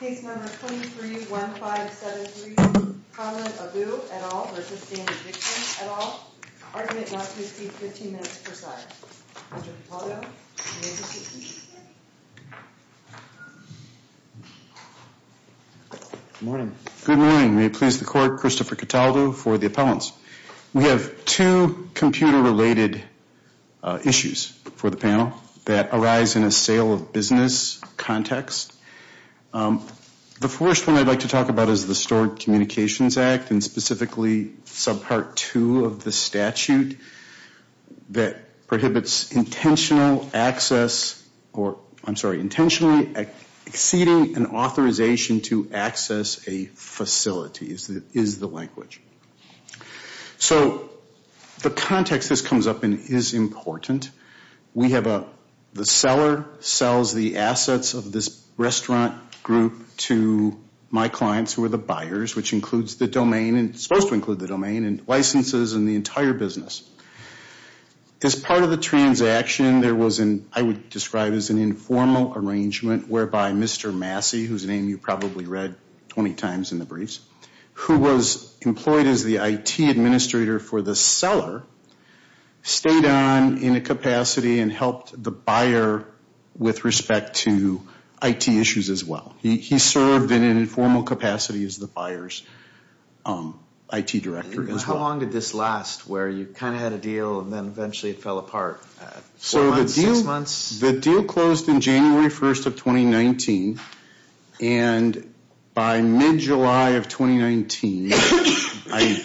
Good morning. May it please the court, Christopher Cataldo for the appellants. We have two computer-related issues for the panel that arise in a sale of business context. The first one I'd like to talk about is the Stored Communications Act and specifically subpart two of the statute that prohibits intentional access or, I'm sorry, intentionally exceeding an authorization to access a facility is the language. So the context this comes up in is important. We have the seller sells the assets of this restaurant group to my clients who are the buyers, which includes the domain and is supposed to include the domain and licenses and the entire business. As part of the transaction, there was an, I would describe as an informal arrangement whereby Mr. Massey, whose name you probably read 20 times in the briefs, who was employed as the IT administrator for the seller, stayed on in a capacity and helped the buyer with respect to IT issues as well. He served in an informal capacity as the buyer's IT director as well. How long did this last where you kind of had a deal and then eventually it fell apart? Four months, six months? So the deal closed in January 1st of 2019. And by mid-July of 2019, I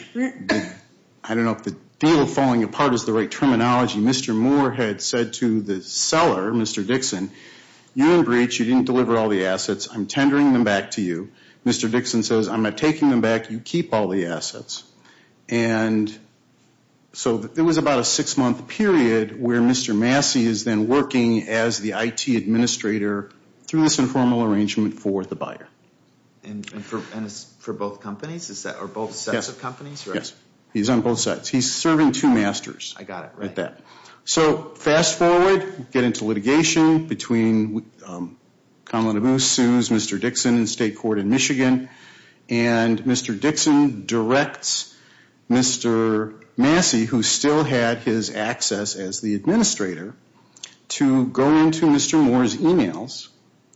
don't know if the deal falling apart is the right terminology, Mr. Moore had said to the seller, Mr. Dixon, you're in breach. You didn't deliver all the assets. I'm tendering them back to you. Mr. Dixon says, I'm not taking them back. You keep all the assets. And so it was about a six-month period where Mr. Massey is then working as the IT administrator through this informal arrangement for the buyer. And for both companies? Or both sets of companies? Yes. He's on both sets. He's serving two masters. I got it. Right. Fast forward, get into litigation between Kamala Busu's Mr. Dixon in state court in Michigan. And Mr. Dixon directs Mr. Massey, who still had his access as the administrator, to go into Mr. Moore's emails.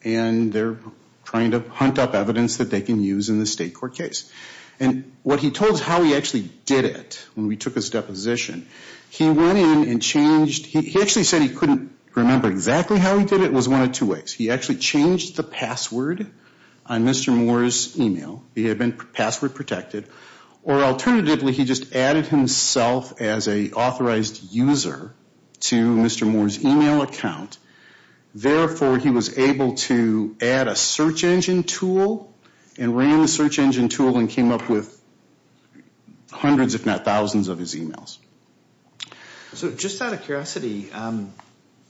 And they're trying to hunt up evidence that they can use in the state court case. And what he told us how he actually did it when we took his deposition, he went in and changed – he actually said he couldn't remember exactly how he did it. It was one of two ways. He actually changed the password on Mr. Moore's email. He had been password protected. Or alternatively, he just added himself as an authorized user to Mr. Moore's email account. Therefore, he was able to add a search engine tool and ran the search engine tool and came up with hundreds, if not thousands, of his emails. So just out of curiosity,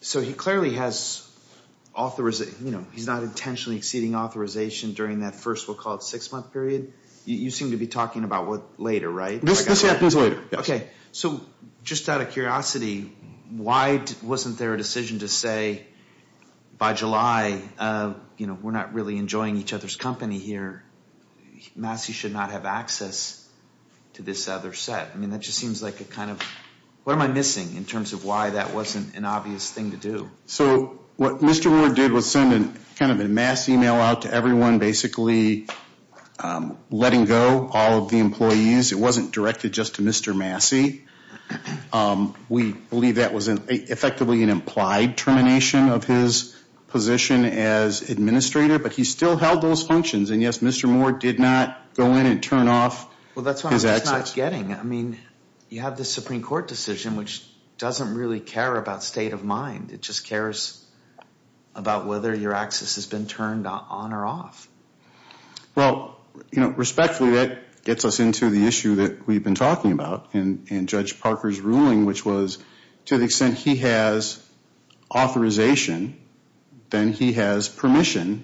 so he clearly has – he's not intentionally exceeding authorization during that first, we'll call it six-month period. You seem to be talking about later, right? This happens later, yes. Okay, so just out of curiosity, why wasn't there a decision to say by July, you know, we're not really enjoying each other's company here. Massey should not have access to this other set. I mean, that just seems like a kind of – what am I missing in terms of why that wasn't an obvious thing to do? So what Mr. Moore did was send kind of a mass email out to everyone, basically letting go all of the employees. It wasn't directed just to Mr. Massey. We believe that was effectively an implied termination of his position as administrator, but he still held those functions. And yes, Mr. Moore did not go in and turn off his access. Well, that's what I'm not getting. I mean, you have the Supreme Court decision, which doesn't really care about state of mind. It just cares about whether your access has been turned on or off. Well, you know, respectfully, that gets us into the issue that we've been talking about in Judge Parker's ruling, which was to the extent he has authorization, then he has permission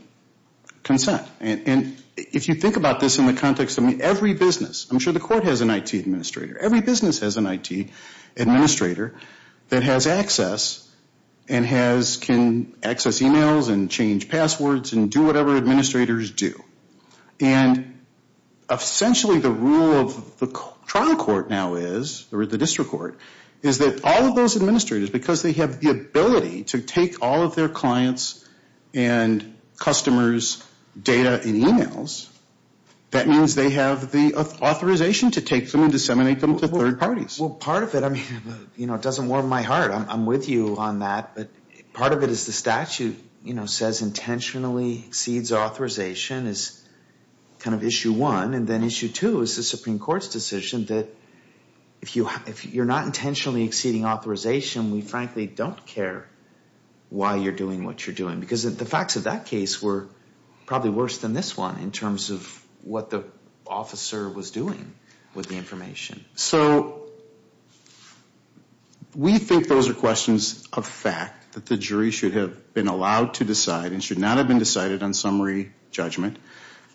consent. And if you think about this in the context of every business – I'm sure the court has an IT administrator. Every business has an IT administrator that has access and can access emails and change passwords and do whatever administrators do. And essentially the rule of the trial court now is – or the district court – is that all of those administrators, because they have the ability to take all of their clients' and customers' data and emails, that means they have the authorization to take them and disseminate them to third parties. Well, part of it – I mean, you know, it doesn't warm my heart. I'm with you on that. But part of it is the statute, you know, says intentionally exceeds authorization is kind of issue one. And then issue two is the Supreme Court's decision that if you're not intentionally exceeding authorization, we frankly don't care why you're doing what you're doing. Because the facts of that case were probably worse than this one in terms of what the officer was doing with the information. So we think those are questions of fact that the jury should have been allowed to decide and should not have been decided on summary judgment.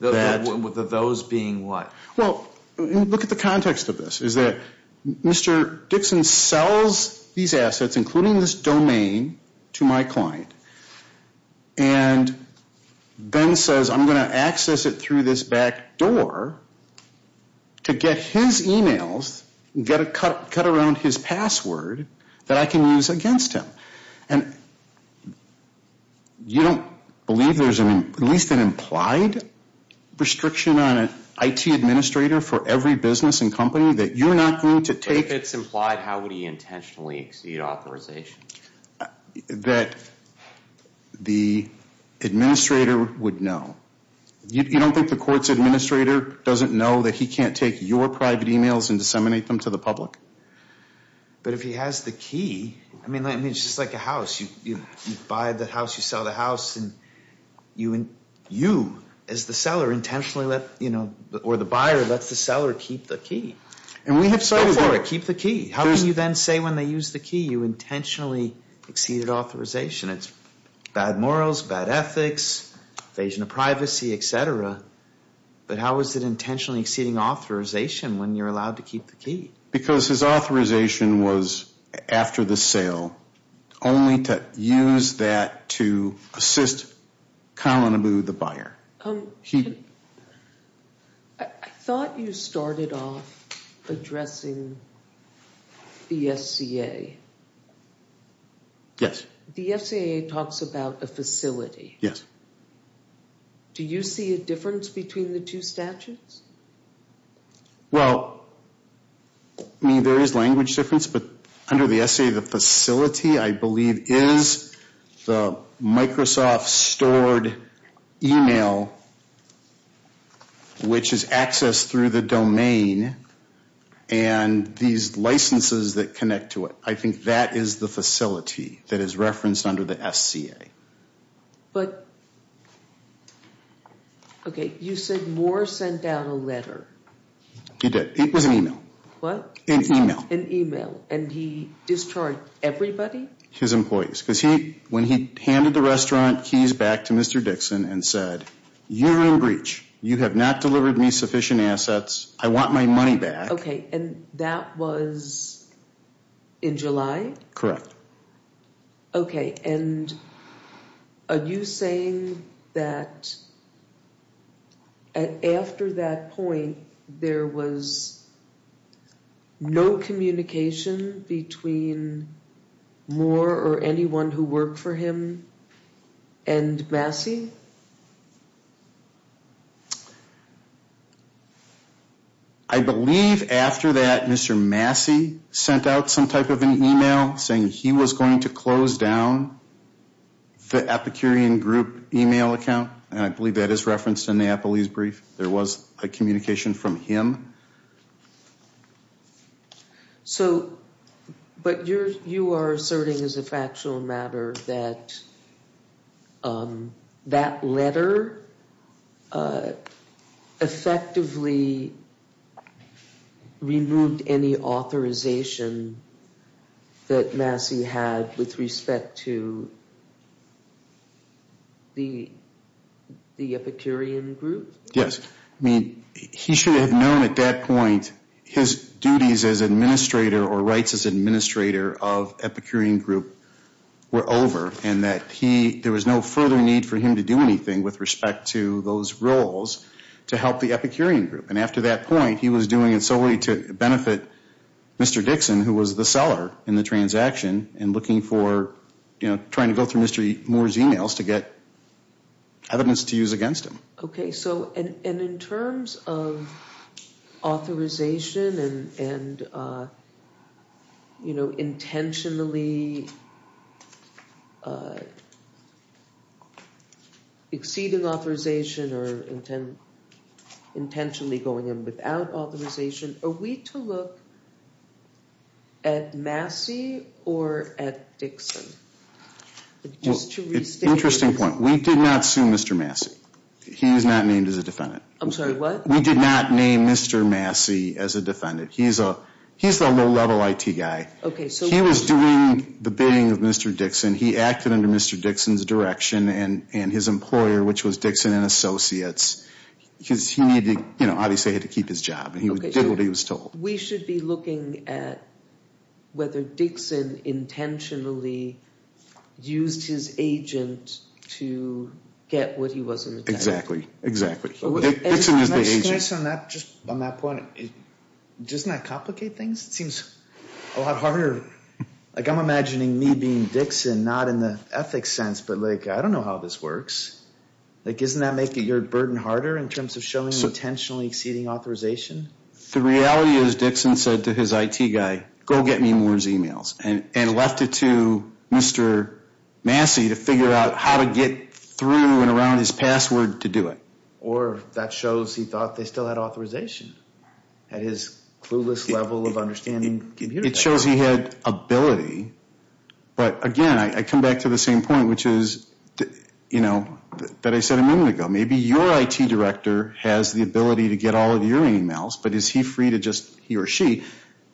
Those being what? Well, look at the context of this. Is that Mr. Dixon sells these assets, including this domain, to my client. And then says I'm going to access it through this back door to get his emails, get a cut around his password that I can use against him. And you don't believe there's at least an implied restriction on an IT administrator for every business and company that you're not going to take – But if it's implied, how would he intentionally exceed authorization? That the administrator would know. You don't think the court's administrator doesn't know that he can't take your private emails and disseminate them to the public? But if he has the key – I mean, it's just like a house. You buy the house, you sell the house, and you as the seller intentionally let – or the buyer lets the seller keep the key. And we have cited – Go for it. Keep the key. How can you then say when they use the key you intentionally exceeded authorization? It's bad morals, bad ethics, invasion of privacy, et cetera. But how is it intentionally exceeding authorization when you're allowed to keep the key? Because his authorization was after the sale, only to use that to assist Colin Abu, the buyer. I thought you started off addressing the FCA. Yes. The FCA talks about a facility. Yes. Do you see a difference between the two statutes? Well, I mean, there is language difference, but under the FCA, the facility, I believe, is the Microsoft stored email, which is accessed through the domain, and these licenses that connect to it. I think that is the facility that is referenced under the FCA. But, okay, you said Moore sent out a letter. He did. It was an email. What? An email. An email, and he discharged everybody? His employees, because when he handed the restaurant keys back to Mr. Dixon and said, you are in breach. You have not delivered me sufficient assets. I want my money back. Okay, and that was in July? Correct. Okay, and are you saying that after that point, there was no communication between Moore or anyone who worked for him and Massey? I believe after that, Mr. Massey sent out some type of an email saying he was going to close down the Epicurean Group email account, and I believe that is referenced in the Applebee's brief. There was a communication from him. So, but you are asserting as a factual matter that that letter effectively removed any authorization that Massey had with respect to the Epicurean Group? Yes. I mean, he should have known at that point his duties as administrator or rights as administrator of Epicurean Group were over, and that there was no further need for him to do anything with respect to those roles to help the Epicurean Group. And after that point, he was doing it solely to benefit Mr. Dixon, who was the seller in the transaction, and looking for, you know, trying to go through Mr. Moore's emails to get evidence to use against him. Okay. So, and in terms of authorization and, you know, intentionally exceeding authorization or intentionally going in without authorization, are we to look at Massey or at Dixon? Interesting point. We did not sue Mr. Massey. He is not named as a defendant. I'm sorry, what? We did not name Mr. Massey as a defendant. He's a low-level IT guy. Okay, so he was doing the bidding of Mr. Dixon. He acted under Mr. Dixon's direction and his employer, which was Dixon and Associates, because he needed, you know, obviously had to keep his job, and he did what he was told. We should be looking at whether Dixon intentionally used his agent to get what he was intended to get. Exactly, exactly. Dixon was the agent. Can I just, on that point, doesn't that complicate things? It seems a lot harder. Like, I'm imagining me being Dixon, not in the ethics sense, but, like, I don't know how this works. Like, doesn't that make your burden harder in terms of showing intentionally exceeding authorization? The reality is Dixon said to his IT guy, go get me Moore's emails, and left it to Mr. Massey to figure out how to get through and around his password to do it. Or that shows he thought they still had authorization at his clueless level of understanding. It shows he had ability, but, again, I come back to the same point, which is, you know, that I said a moment ago. Maybe your IT director has the ability to get all of your emails, but is he free to just, he or she,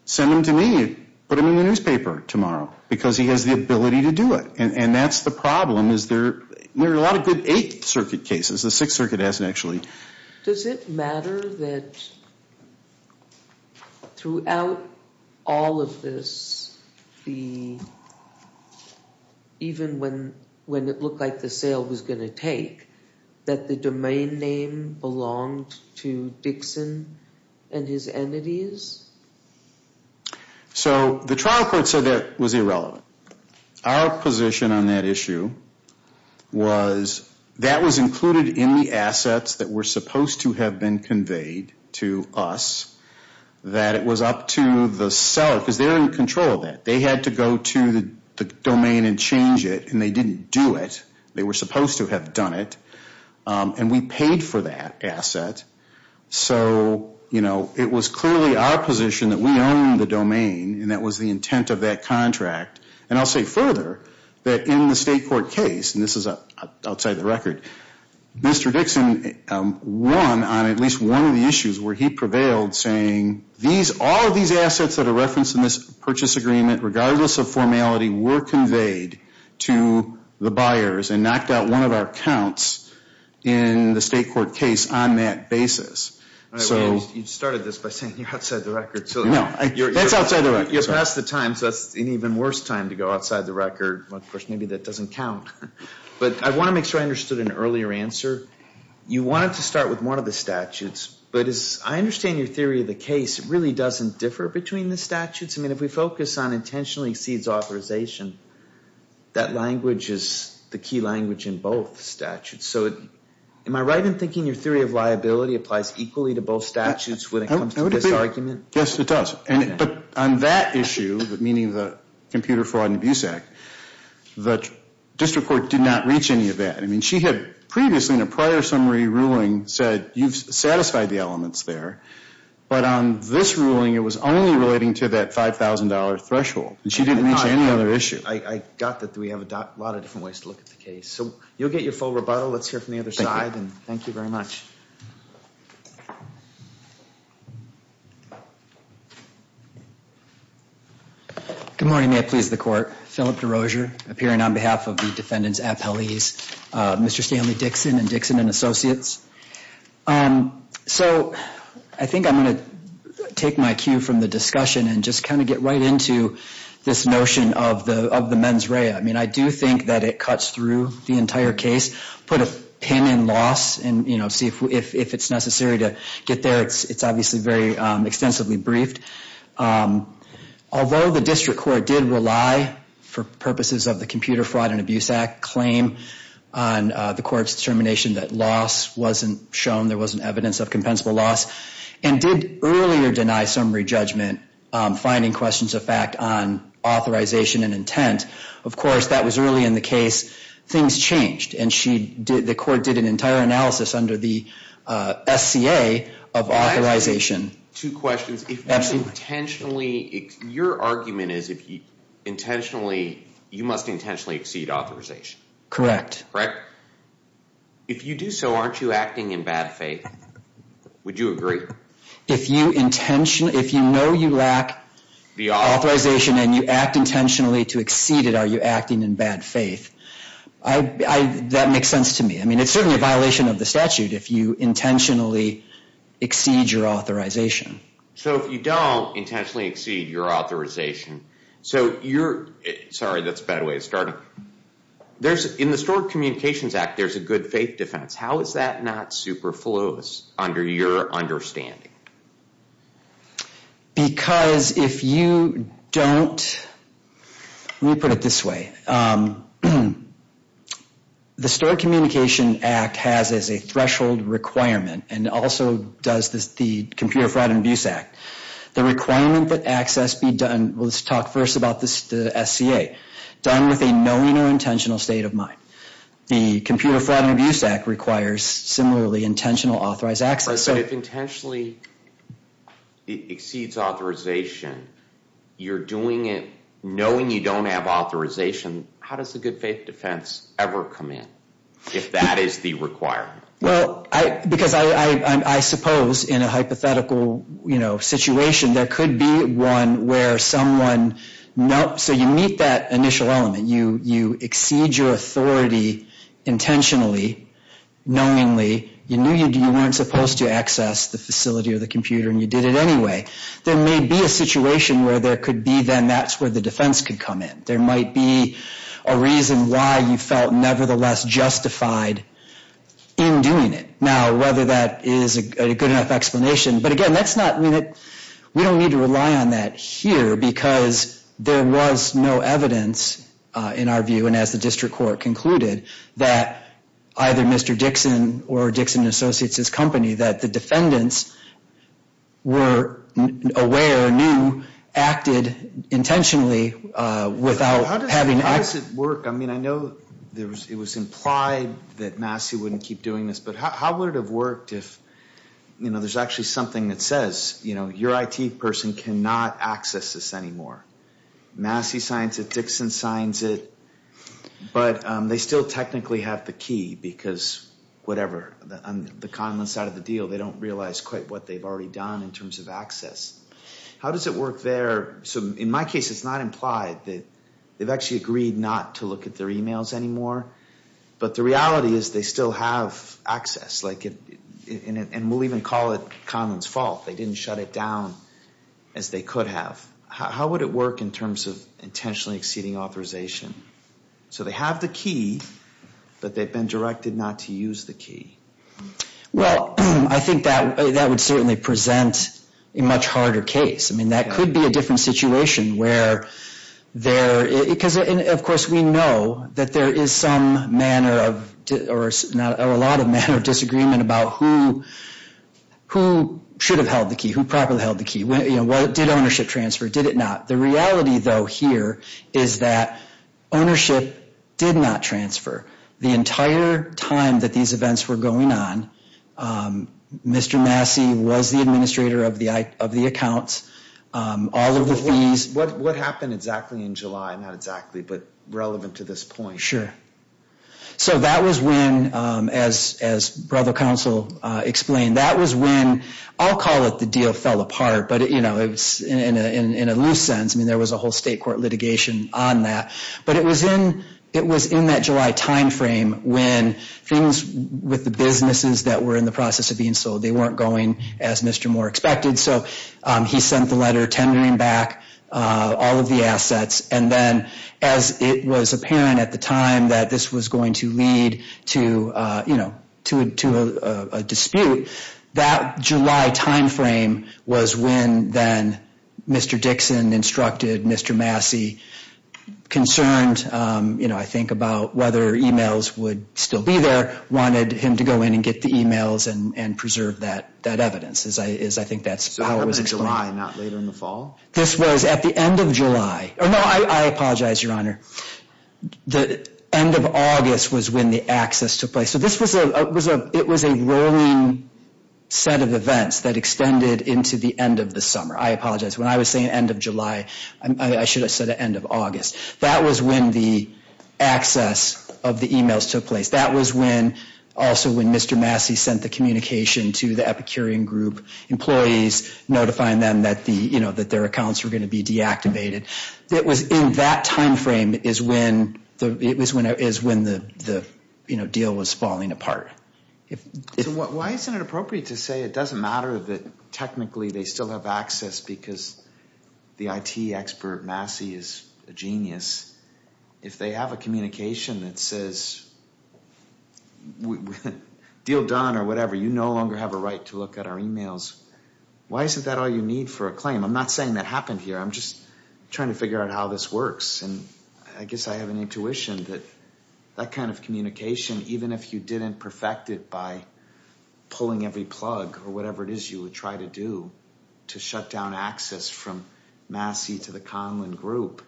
send them to me, put them in the newspaper tomorrow, because he has the ability to do it. And that's the problem is there are a lot of good Eighth Circuit cases. The Sixth Circuit hasn't actually. Does it matter that throughout all of this, even when it looked like the sale was going to take, that the domain name belonged to Dixon and his entities? So the trial court said that was irrelevant. Our position on that issue was that was included in the assets that were supposed to have been conveyed to us, that it was up to the seller, because they were in control of that. They had to go to the domain and change it, and they didn't do it. They were supposed to have done it, and we paid for that asset. So, you know, it was clearly our position that we owned the domain, and that was the intent of that contract. And I'll say further that in the state court case, and this is outside the record, Mr. Dixon won on at least one of the issues where he prevailed, saying these, all of these assets that are referenced in this purchase agreement, regardless of formality, were conveyed to the buyers and knocked out one of our counts in the state court case on that basis. All right. You started this by saying you're outside the record. No. That's outside the record. You're past the time, so that's an even worse time to go outside the record. Of course, maybe that doesn't count. But I want to make sure I understood an earlier answer. You wanted to start with one of the statutes, but as I understand your theory of the case, it really doesn't differ between the statutes. I mean, if we focus on intentionally exceeds authorization, that language is the key language in both statutes. So am I right in thinking your theory of liability applies equally to both statutes when it comes to this argument? Yes, it does. But on that issue, meaning the Computer Fraud and Abuse Act, the district court did not reach any of that. I mean, she had previously in a prior summary ruling said you've satisfied the elements there. But on this ruling, it was only relating to that $5,000 threshold. And she didn't mention any other issue. I got that we have a lot of different ways to look at the case. So you'll get your full rebuttal. Let's hear from the other side. And thank you very much. Good morning. May it please the Court. Philip DeRozier appearing on behalf of the defendant's appellees, Mr. Stanley Dixon and Dixon and Associates. So I think I'm going to take my cue from the discussion and just kind of get right into this notion of the mens rea. I mean, I do think that it cuts through the entire case, put a pin in loss and, you know, see if it's necessary to get there. It's obviously very extensively briefed. Although the district court did rely for purposes of the Computer Fraud and Abuse Act claim on the court's determination that loss wasn't shown, there wasn't evidence of compensable loss, and did earlier deny summary judgment, finding questions of fact on authorization and intent. Of course, that was early in the case. Things changed. And the court did an entire analysis under the SCA of authorization. Two questions. If you intentionally, your argument is if you intentionally, you must intentionally exceed authorization. Correct. Correct? If you do so, aren't you acting in bad faith? Would you agree? If you intentionally, if you know you lack authorization and you act intentionally to exceed it, are you acting in bad faith? That makes sense to me. I mean, it's certainly a violation of the statute if you intentionally exceed your authorization. So if you don't intentionally exceed your authorization, so you're, sorry, that's a bad way to start. There's, in the Stored Communications Act, there's a good faith defense. How is that not superfluous under your understanding? Because if you don't, let me put it this way, the Stored Communication Act has as a threshold requirement and also does the Computer Fraud and Abuse Act, the requirement that access be done, let's talk first about the SCA, done with a knowing or intentional state of mind. The Computer Fraud and Abuse Act requires similarly intentional authorized access. But if intentionally exceeds authorization, you're doing it knowing you don't have authorization, how does the good faith defense ever come in if that is the requirement? Well, because I suppose in a hypothetical situation, there could be one where someone, so you meet that initial element. You exceed your authority intentionally, knowingly. You knew you weren't supposed to access the facility or the computer and you did it anyway. There may be a situation where there could be then that's where the defense could come in. There might be a reason why you felt nevertheless justified in doing it. Now, whether that is a good enough explanation, but again, that's not, we don't need to rely on that here because there was no evidence in our view, and as the district court concluded, that either Mr. Dixon or Dixon and Associates' company, that the defendants were aware, knew, acted intentionally without having. How does it work? I mean, I know it was implied that Massey wouldn't keep doing this, but how would it have worked if, you know, there's actually something that says, you know, your IT person cannot access this anymore. Massey signs it, Dixon signs it, but they still technically have the key because whatever. On the conless side of the deal, they don't realize quite what they've already done in terms of access. How does it work there? So in my case, it's not implied that they've actually agreed not to look at their emails anymore, but the reality is they still have access, and we'll even call it Conlon's fault. They didn't shut it down as they could have. How would it work in terms of intentionally exceeding authorization? So they have the key, but they've been directed not to use the key. Well, I think that would certainly present a much harder case. I mean, that could be a different situation where there, because, of course, we know that there is some manner of, or a lot of manner of disagreement about who should have held the key, who properly held the key, you know, did ownership transfer, did it not. The reality, though, here is that ownership did not transfer. The entire time that these events were going on, Mr. Massey was the administrator of the accounts. All of the fees. What happened exactly in July, not exactly, but relevant to this point? Sure. So that was when, as Brother Counsel explained, that was when, I'll call it the deal fell apart, but, you know, in a loose sense. I mean, there was a whole state court litigation on that. But it was in that July timeframe when things with the businesses that were in the process of being sold, they weren't going as Mr. Moore expected. So he sent the letter tendering back all of the assets. And then as it was apparent at the time that this was going to lead to, you know, to a dispute, that July timeframe was when then Mr. Dixon instructed Mr. Massey, concerned, you know, I think about whether emails would still be there, wanted him to go in and get the emails and preserve that evidence. I think that's how it was explained. So it happened in July, not later in the fall? This was at the end of July. No, I apologize, Your Honor. The end of August was when the access took place. So this was a, it was a rolling set of events that extended into the end of the summer. I apologize. When I was saying end of July, I should have said the end of August. That was when the access of the emails took place. That was when, also when Mr. Massey sent the communication to the Epicurean Group employees, notifying them that the, you know, that their accounts were going to be deactivated. It was in that timeframe is when the, you know, deal was falling apart. So why isn't it appropriate to say it doesn't matter that technically they still have access because the IT expert Massey is a genius? If they have a communication that says deal done or whatever, you no longer have a right to look at our emails, why isn't that all you need for a claim? I'm not saying that happened here. I'm just trying to figure out how this works. And I guess I have an intuition that that kind of communication, even if you didn't perfect it by pulling every plug or whatever it is you would try to do to shut down access from Massey to the Conlon Group,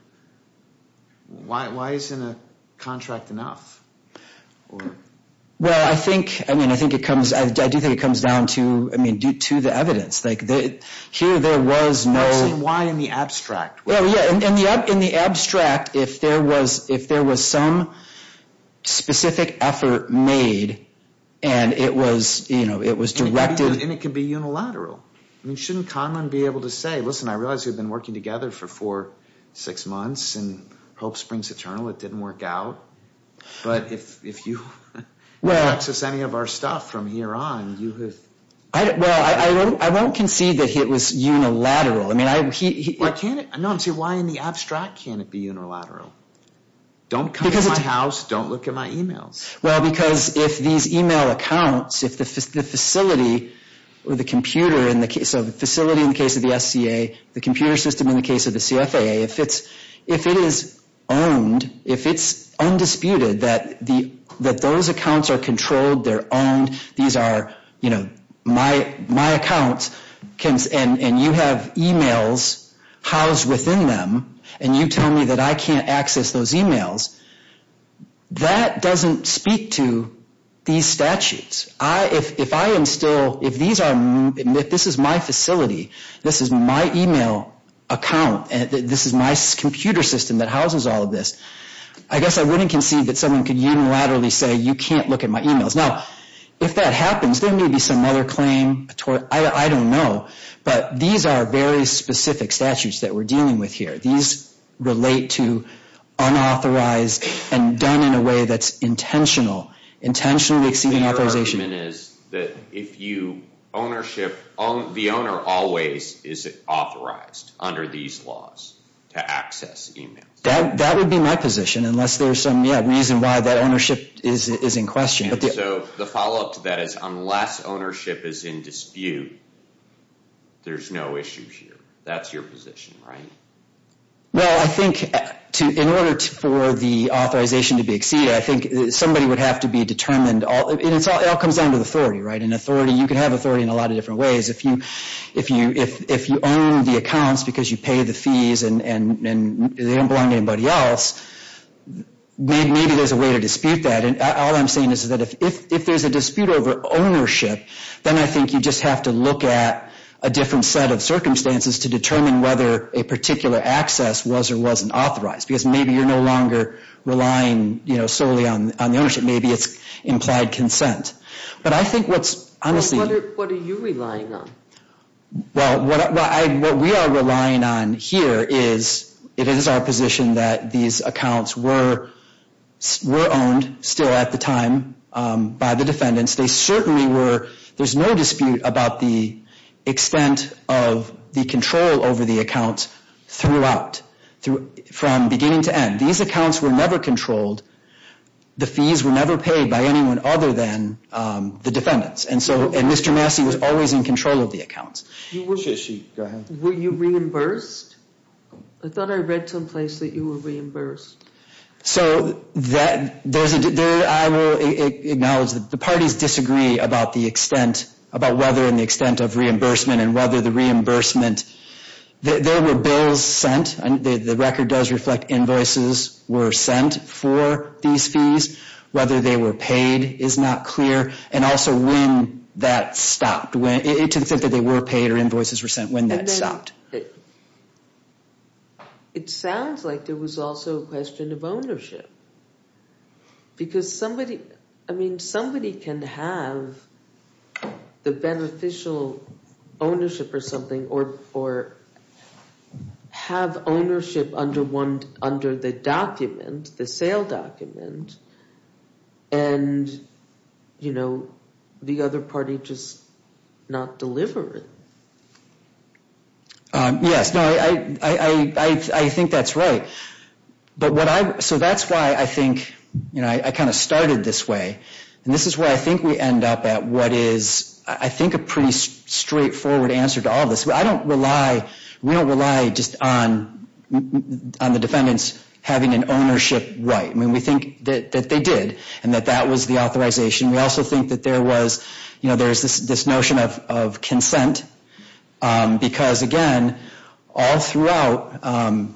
why isn't a contract enough? Well, I think, I mean, I think it comes, I do think it comes down to, I mean, to the evidence. Like here there was no... I'm just saying why in the abstract? Well, yeah, in the abstract if there was some specific effort made and it was, you know, it was directed... And it could be unilateral. I mean, shouldn't Conlon be able to say, listen, I realize we've been working together for four, six months and hope springs eternal, it didn't work out. But if you access any of our stuff from here on you have... Well, I won't concede that it was unilateral. Why can't it, no, I'm saying why in the abstract can't it be unilateral? Don't come to my house, don't look at my emails. Well, because if these email accounts, if the facility or the computer, so the facility in the case of the SCA, the computer system in the case of the CFAA, if it is owned, if it's undisputed that those accounts are controlled, they're owned, these are my accounts and you have emails housed within them and you tell me that I can't access those emails, that doesn't speak to these statutes. If I am still, if this is my facility, this is my email account, this is my computer system that houses all of this, I guess I wouldn't concede that someone could unilaterally say you can't look at my emails. Now, if that happens, there may be some other claim, I don't know, but these are very specific statutes that we're dealing with here. These relate to unauthorized and done in a way that's intentional, intentionally exceeding authorization. Your argument is that if you ownership, the owner always is authorized under these laws to access emails. That would be my position unless there's some reason why that ownership is in question. So the follow-up to that is unless ownership is in dispute, there's no issue here. That's your position, right? Well, I think in order for the authorization to be exceeded, I think somebody would have to be determined. It all comes down to the authority, right? And authority, you can have authority in a lot of different ways. If you own the accounts because you pay the fees and they don't belong to anybody else, maybe there's a way to dispute that. All I'm saying is that if there's a dispute over ownership, then I think you just have to look at a different set of circumstances to determine whether a particular access was or wasn't authorized because maybe you're no longer relying solely on the ownership. Maybe it's implied consent. But I think what's honestly— What are you relying on? Well, what we are relying on here is, it is our position that these accounts were owned still at the time by the defendants. They certainly were. There's no dispute about the extent of the control over the accounts throughout, from beginning to end. These accounts were never controlled. The fees were never paid by anyone other than the defendants. And Mr. Massey was always in control of the accounts. Go ahead. Were you reimbursed? I thought I read someplace that you were reimbursed. So, I will acknowledge that the parties disagree about the extent, about whether in the extent of reimbursement and whether the reimbursement— There were bills sent. The record does reflect invoices were sent for these fees. Whether they were paid is not clear. And also, when that stopped. To the extent that they were paid or invoices were sent, when that stopped. It sounds like there was also a question of ownership. Because somebody— I mean, somebody can have the beneficial ownership or something, or have ownership under the document, the sale document, and, you know, the other party just not deliver it. Yes, no, I think that's right. But what I—so that's why I think, you know, I kind of started this way. And this is where I think we end up at what is, I think, a pretty straightforward answer to all this. I don't rely—we don't rely just on the defendants having an ownership right. I mean, we think that they did and that that was the authorization. We also think that there was, you know, there's this notion of consent. Because, again, all throughout,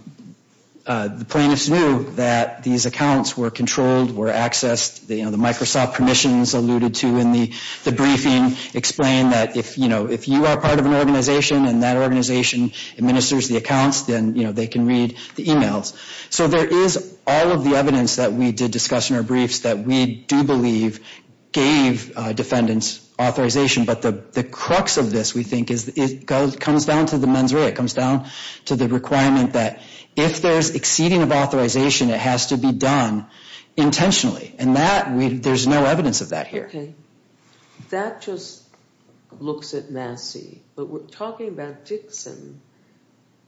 the plaintiffs knew that these accounts were controlled, were accessed. You know, the Microsoft permissions alluded to in the briefing explain that, you know, if you are part of an organization and that organization administers the accounts, then, you know, they can read the emails. So there is all of the evidence that we did discuss in our briefs that we do believe gave defendants authorization. But the crux of this, we think, is it comes down to the mens rea. It comes down to the requirement that if there's exceeding of authorization, it has to be done intentionally. And that, we—there's no evidence of that here. Okay. That just looks at Massey. But we're talking about Dixon.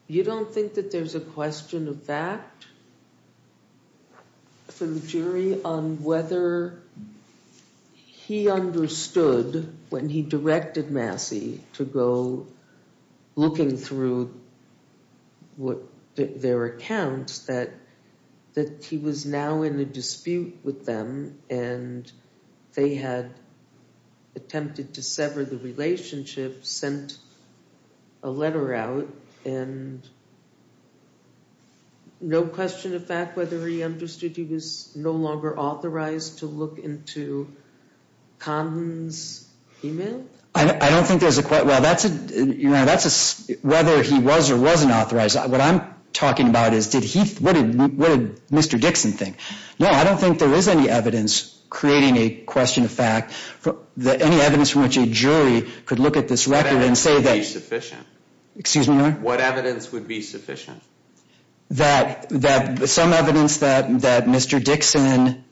You don't think that there's a question of fact from the jury on whether he understood, when he directed Massey to go looking through their accounts, that he was now in a dispute with them and they had attempted to sever the relationship, sent a letter out, and no question of fact whether he understood he was no longer authorized to look into Condon's email? I don't think there's a—well, that's a—you know, that's a—whether he was or wasn't authorized. What I'm talking about is did he—what did Mr. Dixon think? No, I don't think there is any evidence creating a question of fact. Any evidence from which a jury could look at this record and say that— Excuse me? What evidence would be sufficient? That some evidence that Mr. Dixon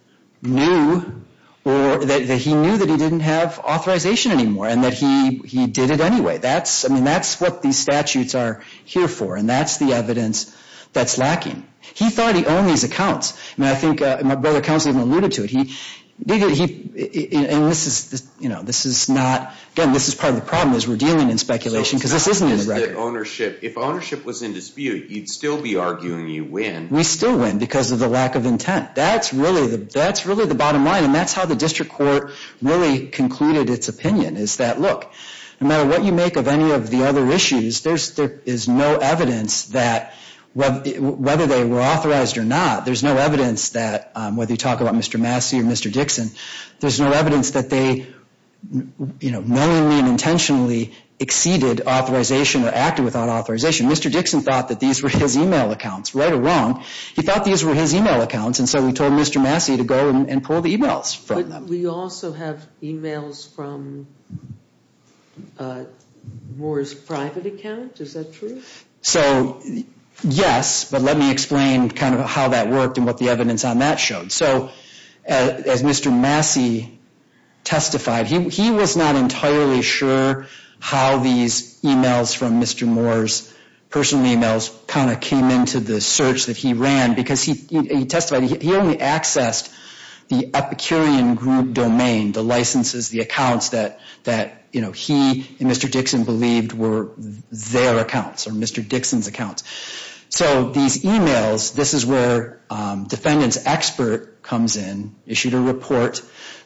knew or that he knew that he didn't have authorization anymore and that he did it anyway. That's—I mean, that's what these statutes are here for. And that's the evidence that's lacking. He thought he owned these accounts. I mean, I think my brother counsel even alluded to it. He—and this is, you know, this is not— again, this is part of the problem is we're dealing in speculation because this isn't in the record. If ownership was in dispute, you'd still be arguing you win. We still win because of the lack of intent. That's really the bottom line. And that's how the district court really concluded its opinion is that, look, no matter what you make of any of the other issues, there is no evidence that whether they were authorized or not, there's no evidence that whether you talk about Mr. Massey or Mr. Dixon, there's no evidence that they, you know, knowingly and intentionally exceeded authorization or acted without authorization. Mr. Dixon thought that these were his email accounts. Right or wrong, he thought these were his email accounts. And so we told Mr. Massey to go and pull the emails from them. But we also have emails from Moore's private account. Is that true? So, yes, but let me explain kind of how that worked and what the evidence on that showed. So as Mr. Massey testified, he was not entirely sure how these emails from Mr. Moore's personal emails kind of came into the search that he ran because he testified he only accessed the Epicurean group domain, the licenses, the accounts that, you know, he and Mr. Dixon believed were their accounts or Mr. Dixon's accounts. So these emails, this is where Defendant's Expert comes in, issued a report.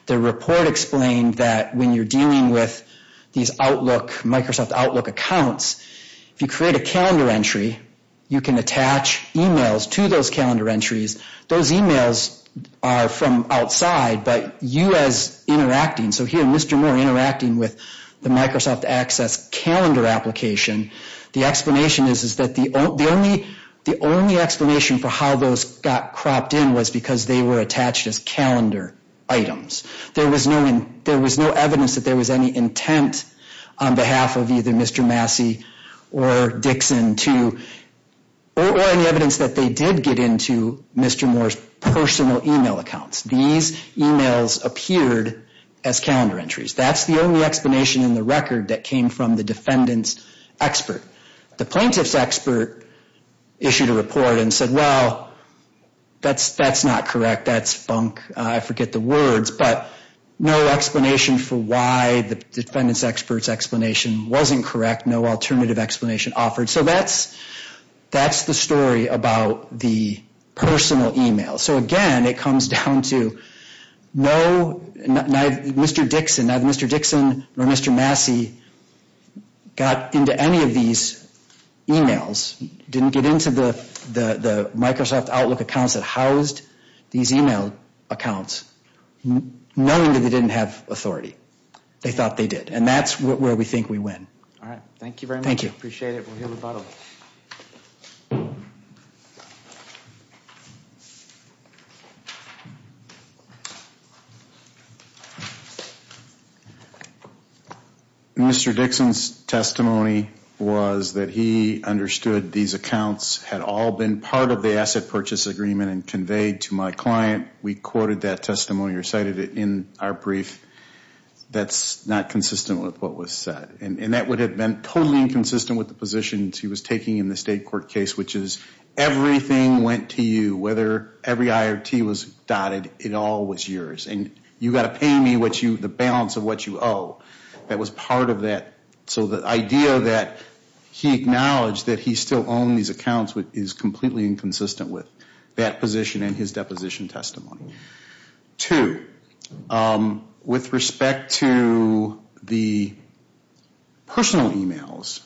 The report explained that when you're dealing with these Outlook, Microsoft Outlook accounts, if you create a calendar entry, you can attach emails to those calendar entries. Those emails are from outside, but you as interacting, so here Mr. Moore interacting with the Microsoft Access calendar application, the explanation is that the only explanation for how those got cropped in was because they were attached as calendar items. There was no evidence that there was any intent on behalf of either Mr. Massey or Dixon or any evidence that they did get into Mr. Moore's personal email accounts. These emails appeared as calendar entries. That's the only explanation in the record that came from the Defendant's Expert. The Plaintiff's Expert issued a report and said, well, that's not correct. That's funk. I forget the words, but no explanation for why the Defendant's Expert's explanation wasn't correct. No alternative explanation offered, so that's the story about the personal email. Again, it comes down to no, neither Mr. Dixon or Mr. Massey got into any of these emails, didn't get into the Microsoft Outlook accounts that housed these email accounts, knowing that they didn't have authority. They thought they did, and that's where we think we win. All right. Thank you very much. Thank you. Appreciate it. Mr. Dixon's testimony was that he understood these accounts had all been part of the asset purchase agreement and conveyed to my client. We quoted that testimony or cited it in our brief. That's not consistent with what was said, and that would have been totally inconsistent with the positions he was taking in the state court case, which is everything went to you. Whether every I or T was dotted, it all was yours, and you've got to pay me the balance of what you owe. That was part of that. So the idea that he acknowledged that he still owned these accounts is completely inconsistent with that position in his deposition testimony. Two, with respect to the personal emails,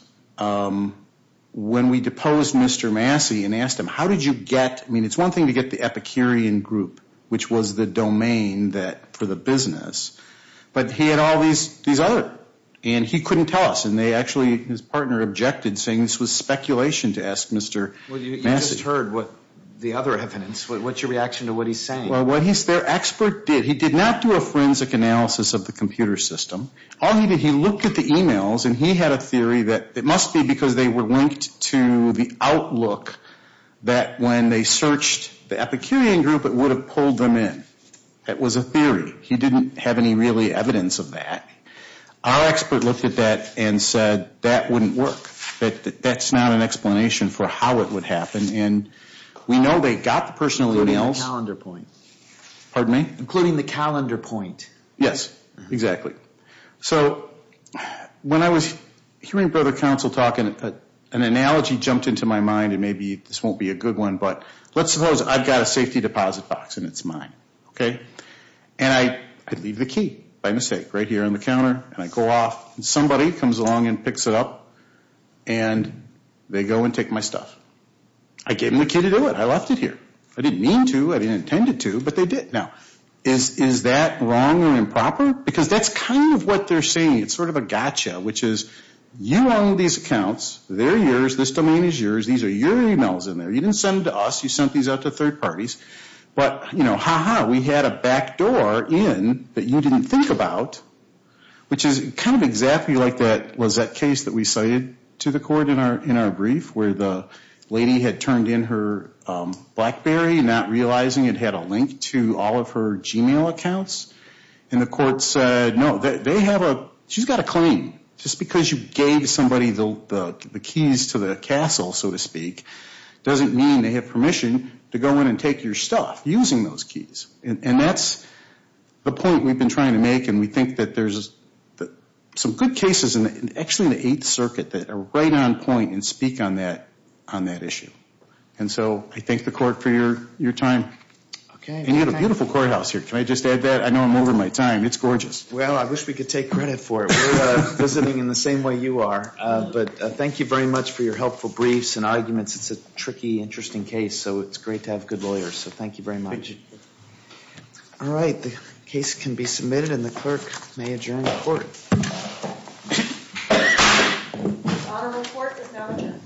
when we deposed Mr. Massey and asked him, how did you get, I mean, it's one thing to get the Epicurean group, which was the domain for the business, but he had all these other, and he couldn't tell us, and they actually, his partner objected, saying this was speculation to ask Mr. Massey. Well, you just heard the other evidence. What's your reaction to what he's saying? Well, what their expert did, he did not do a forensic analysis of the computer system. All he did, he looked at the emails, and he had a theory that it must be because they were linked to the outlook that when they searched the Epicurean group, it would have pulled them in. That was a theory. He didn't have any really evidence of that. Our expert looked at that and said that wouldn't work, that that's not an explanation for how it would happen, and we know they got the personal emails. Including the calendar point. Pardon me? Including the calendar point. Yes, exactly. So when I was hearing Brother Counsel talk, an analogy jumped into my mind, and maybe this won't be a good one, but let's suppose I've got a safety deposit box, and it's mine, okay? And I leave the key, by mistake, right here on the counter, and I go off, and somebody comes along and picks it up, and they go and take my stuff. I gave them the key to do it. I left it here. I didn't mean to. I didn't intend to, but they did. Now, is that wrong or improper? Because that's kind of what they're saying. It's sort of a gotcha, which is you own these accounts. They're yours. This domain is yours. These are your emails in there. You didn't send them to us. You sent these out to third parties. But, you know, ha-ha, we had a backdoor in that you didn't think about, which is kind of exactly like that case that we cited to the court in our brief, where the lady had turned in her BlackBerry, not realizing it had a link to all of her Gmail accounts, and the court said, no, they have a ‑‑ she's got a claim. Just because you gave somebody the keys to the castle, so to speak, doesn't mean they have permission to go in and take your stuff using those keys, and that's the point we've been trying to make, and we think that there's some good cases, actually in the Eighth Circuit, that are right on point and speak on that issue. And so I thank the court for your time. And you have a beautiful courthouse here. Can I just add that? I know I'm over my time. It's gorgeous. Well, I wish we could take credit for it. We're visiting in the same way you are. But thank you very much for your helpful briefs and arguments. It's a tricky, interesting case, so it's great to have good lawyers. So thank you very much. Thank you. All right. The case can be submitted, and the clerk may adjourn the court. The court is now adjourned.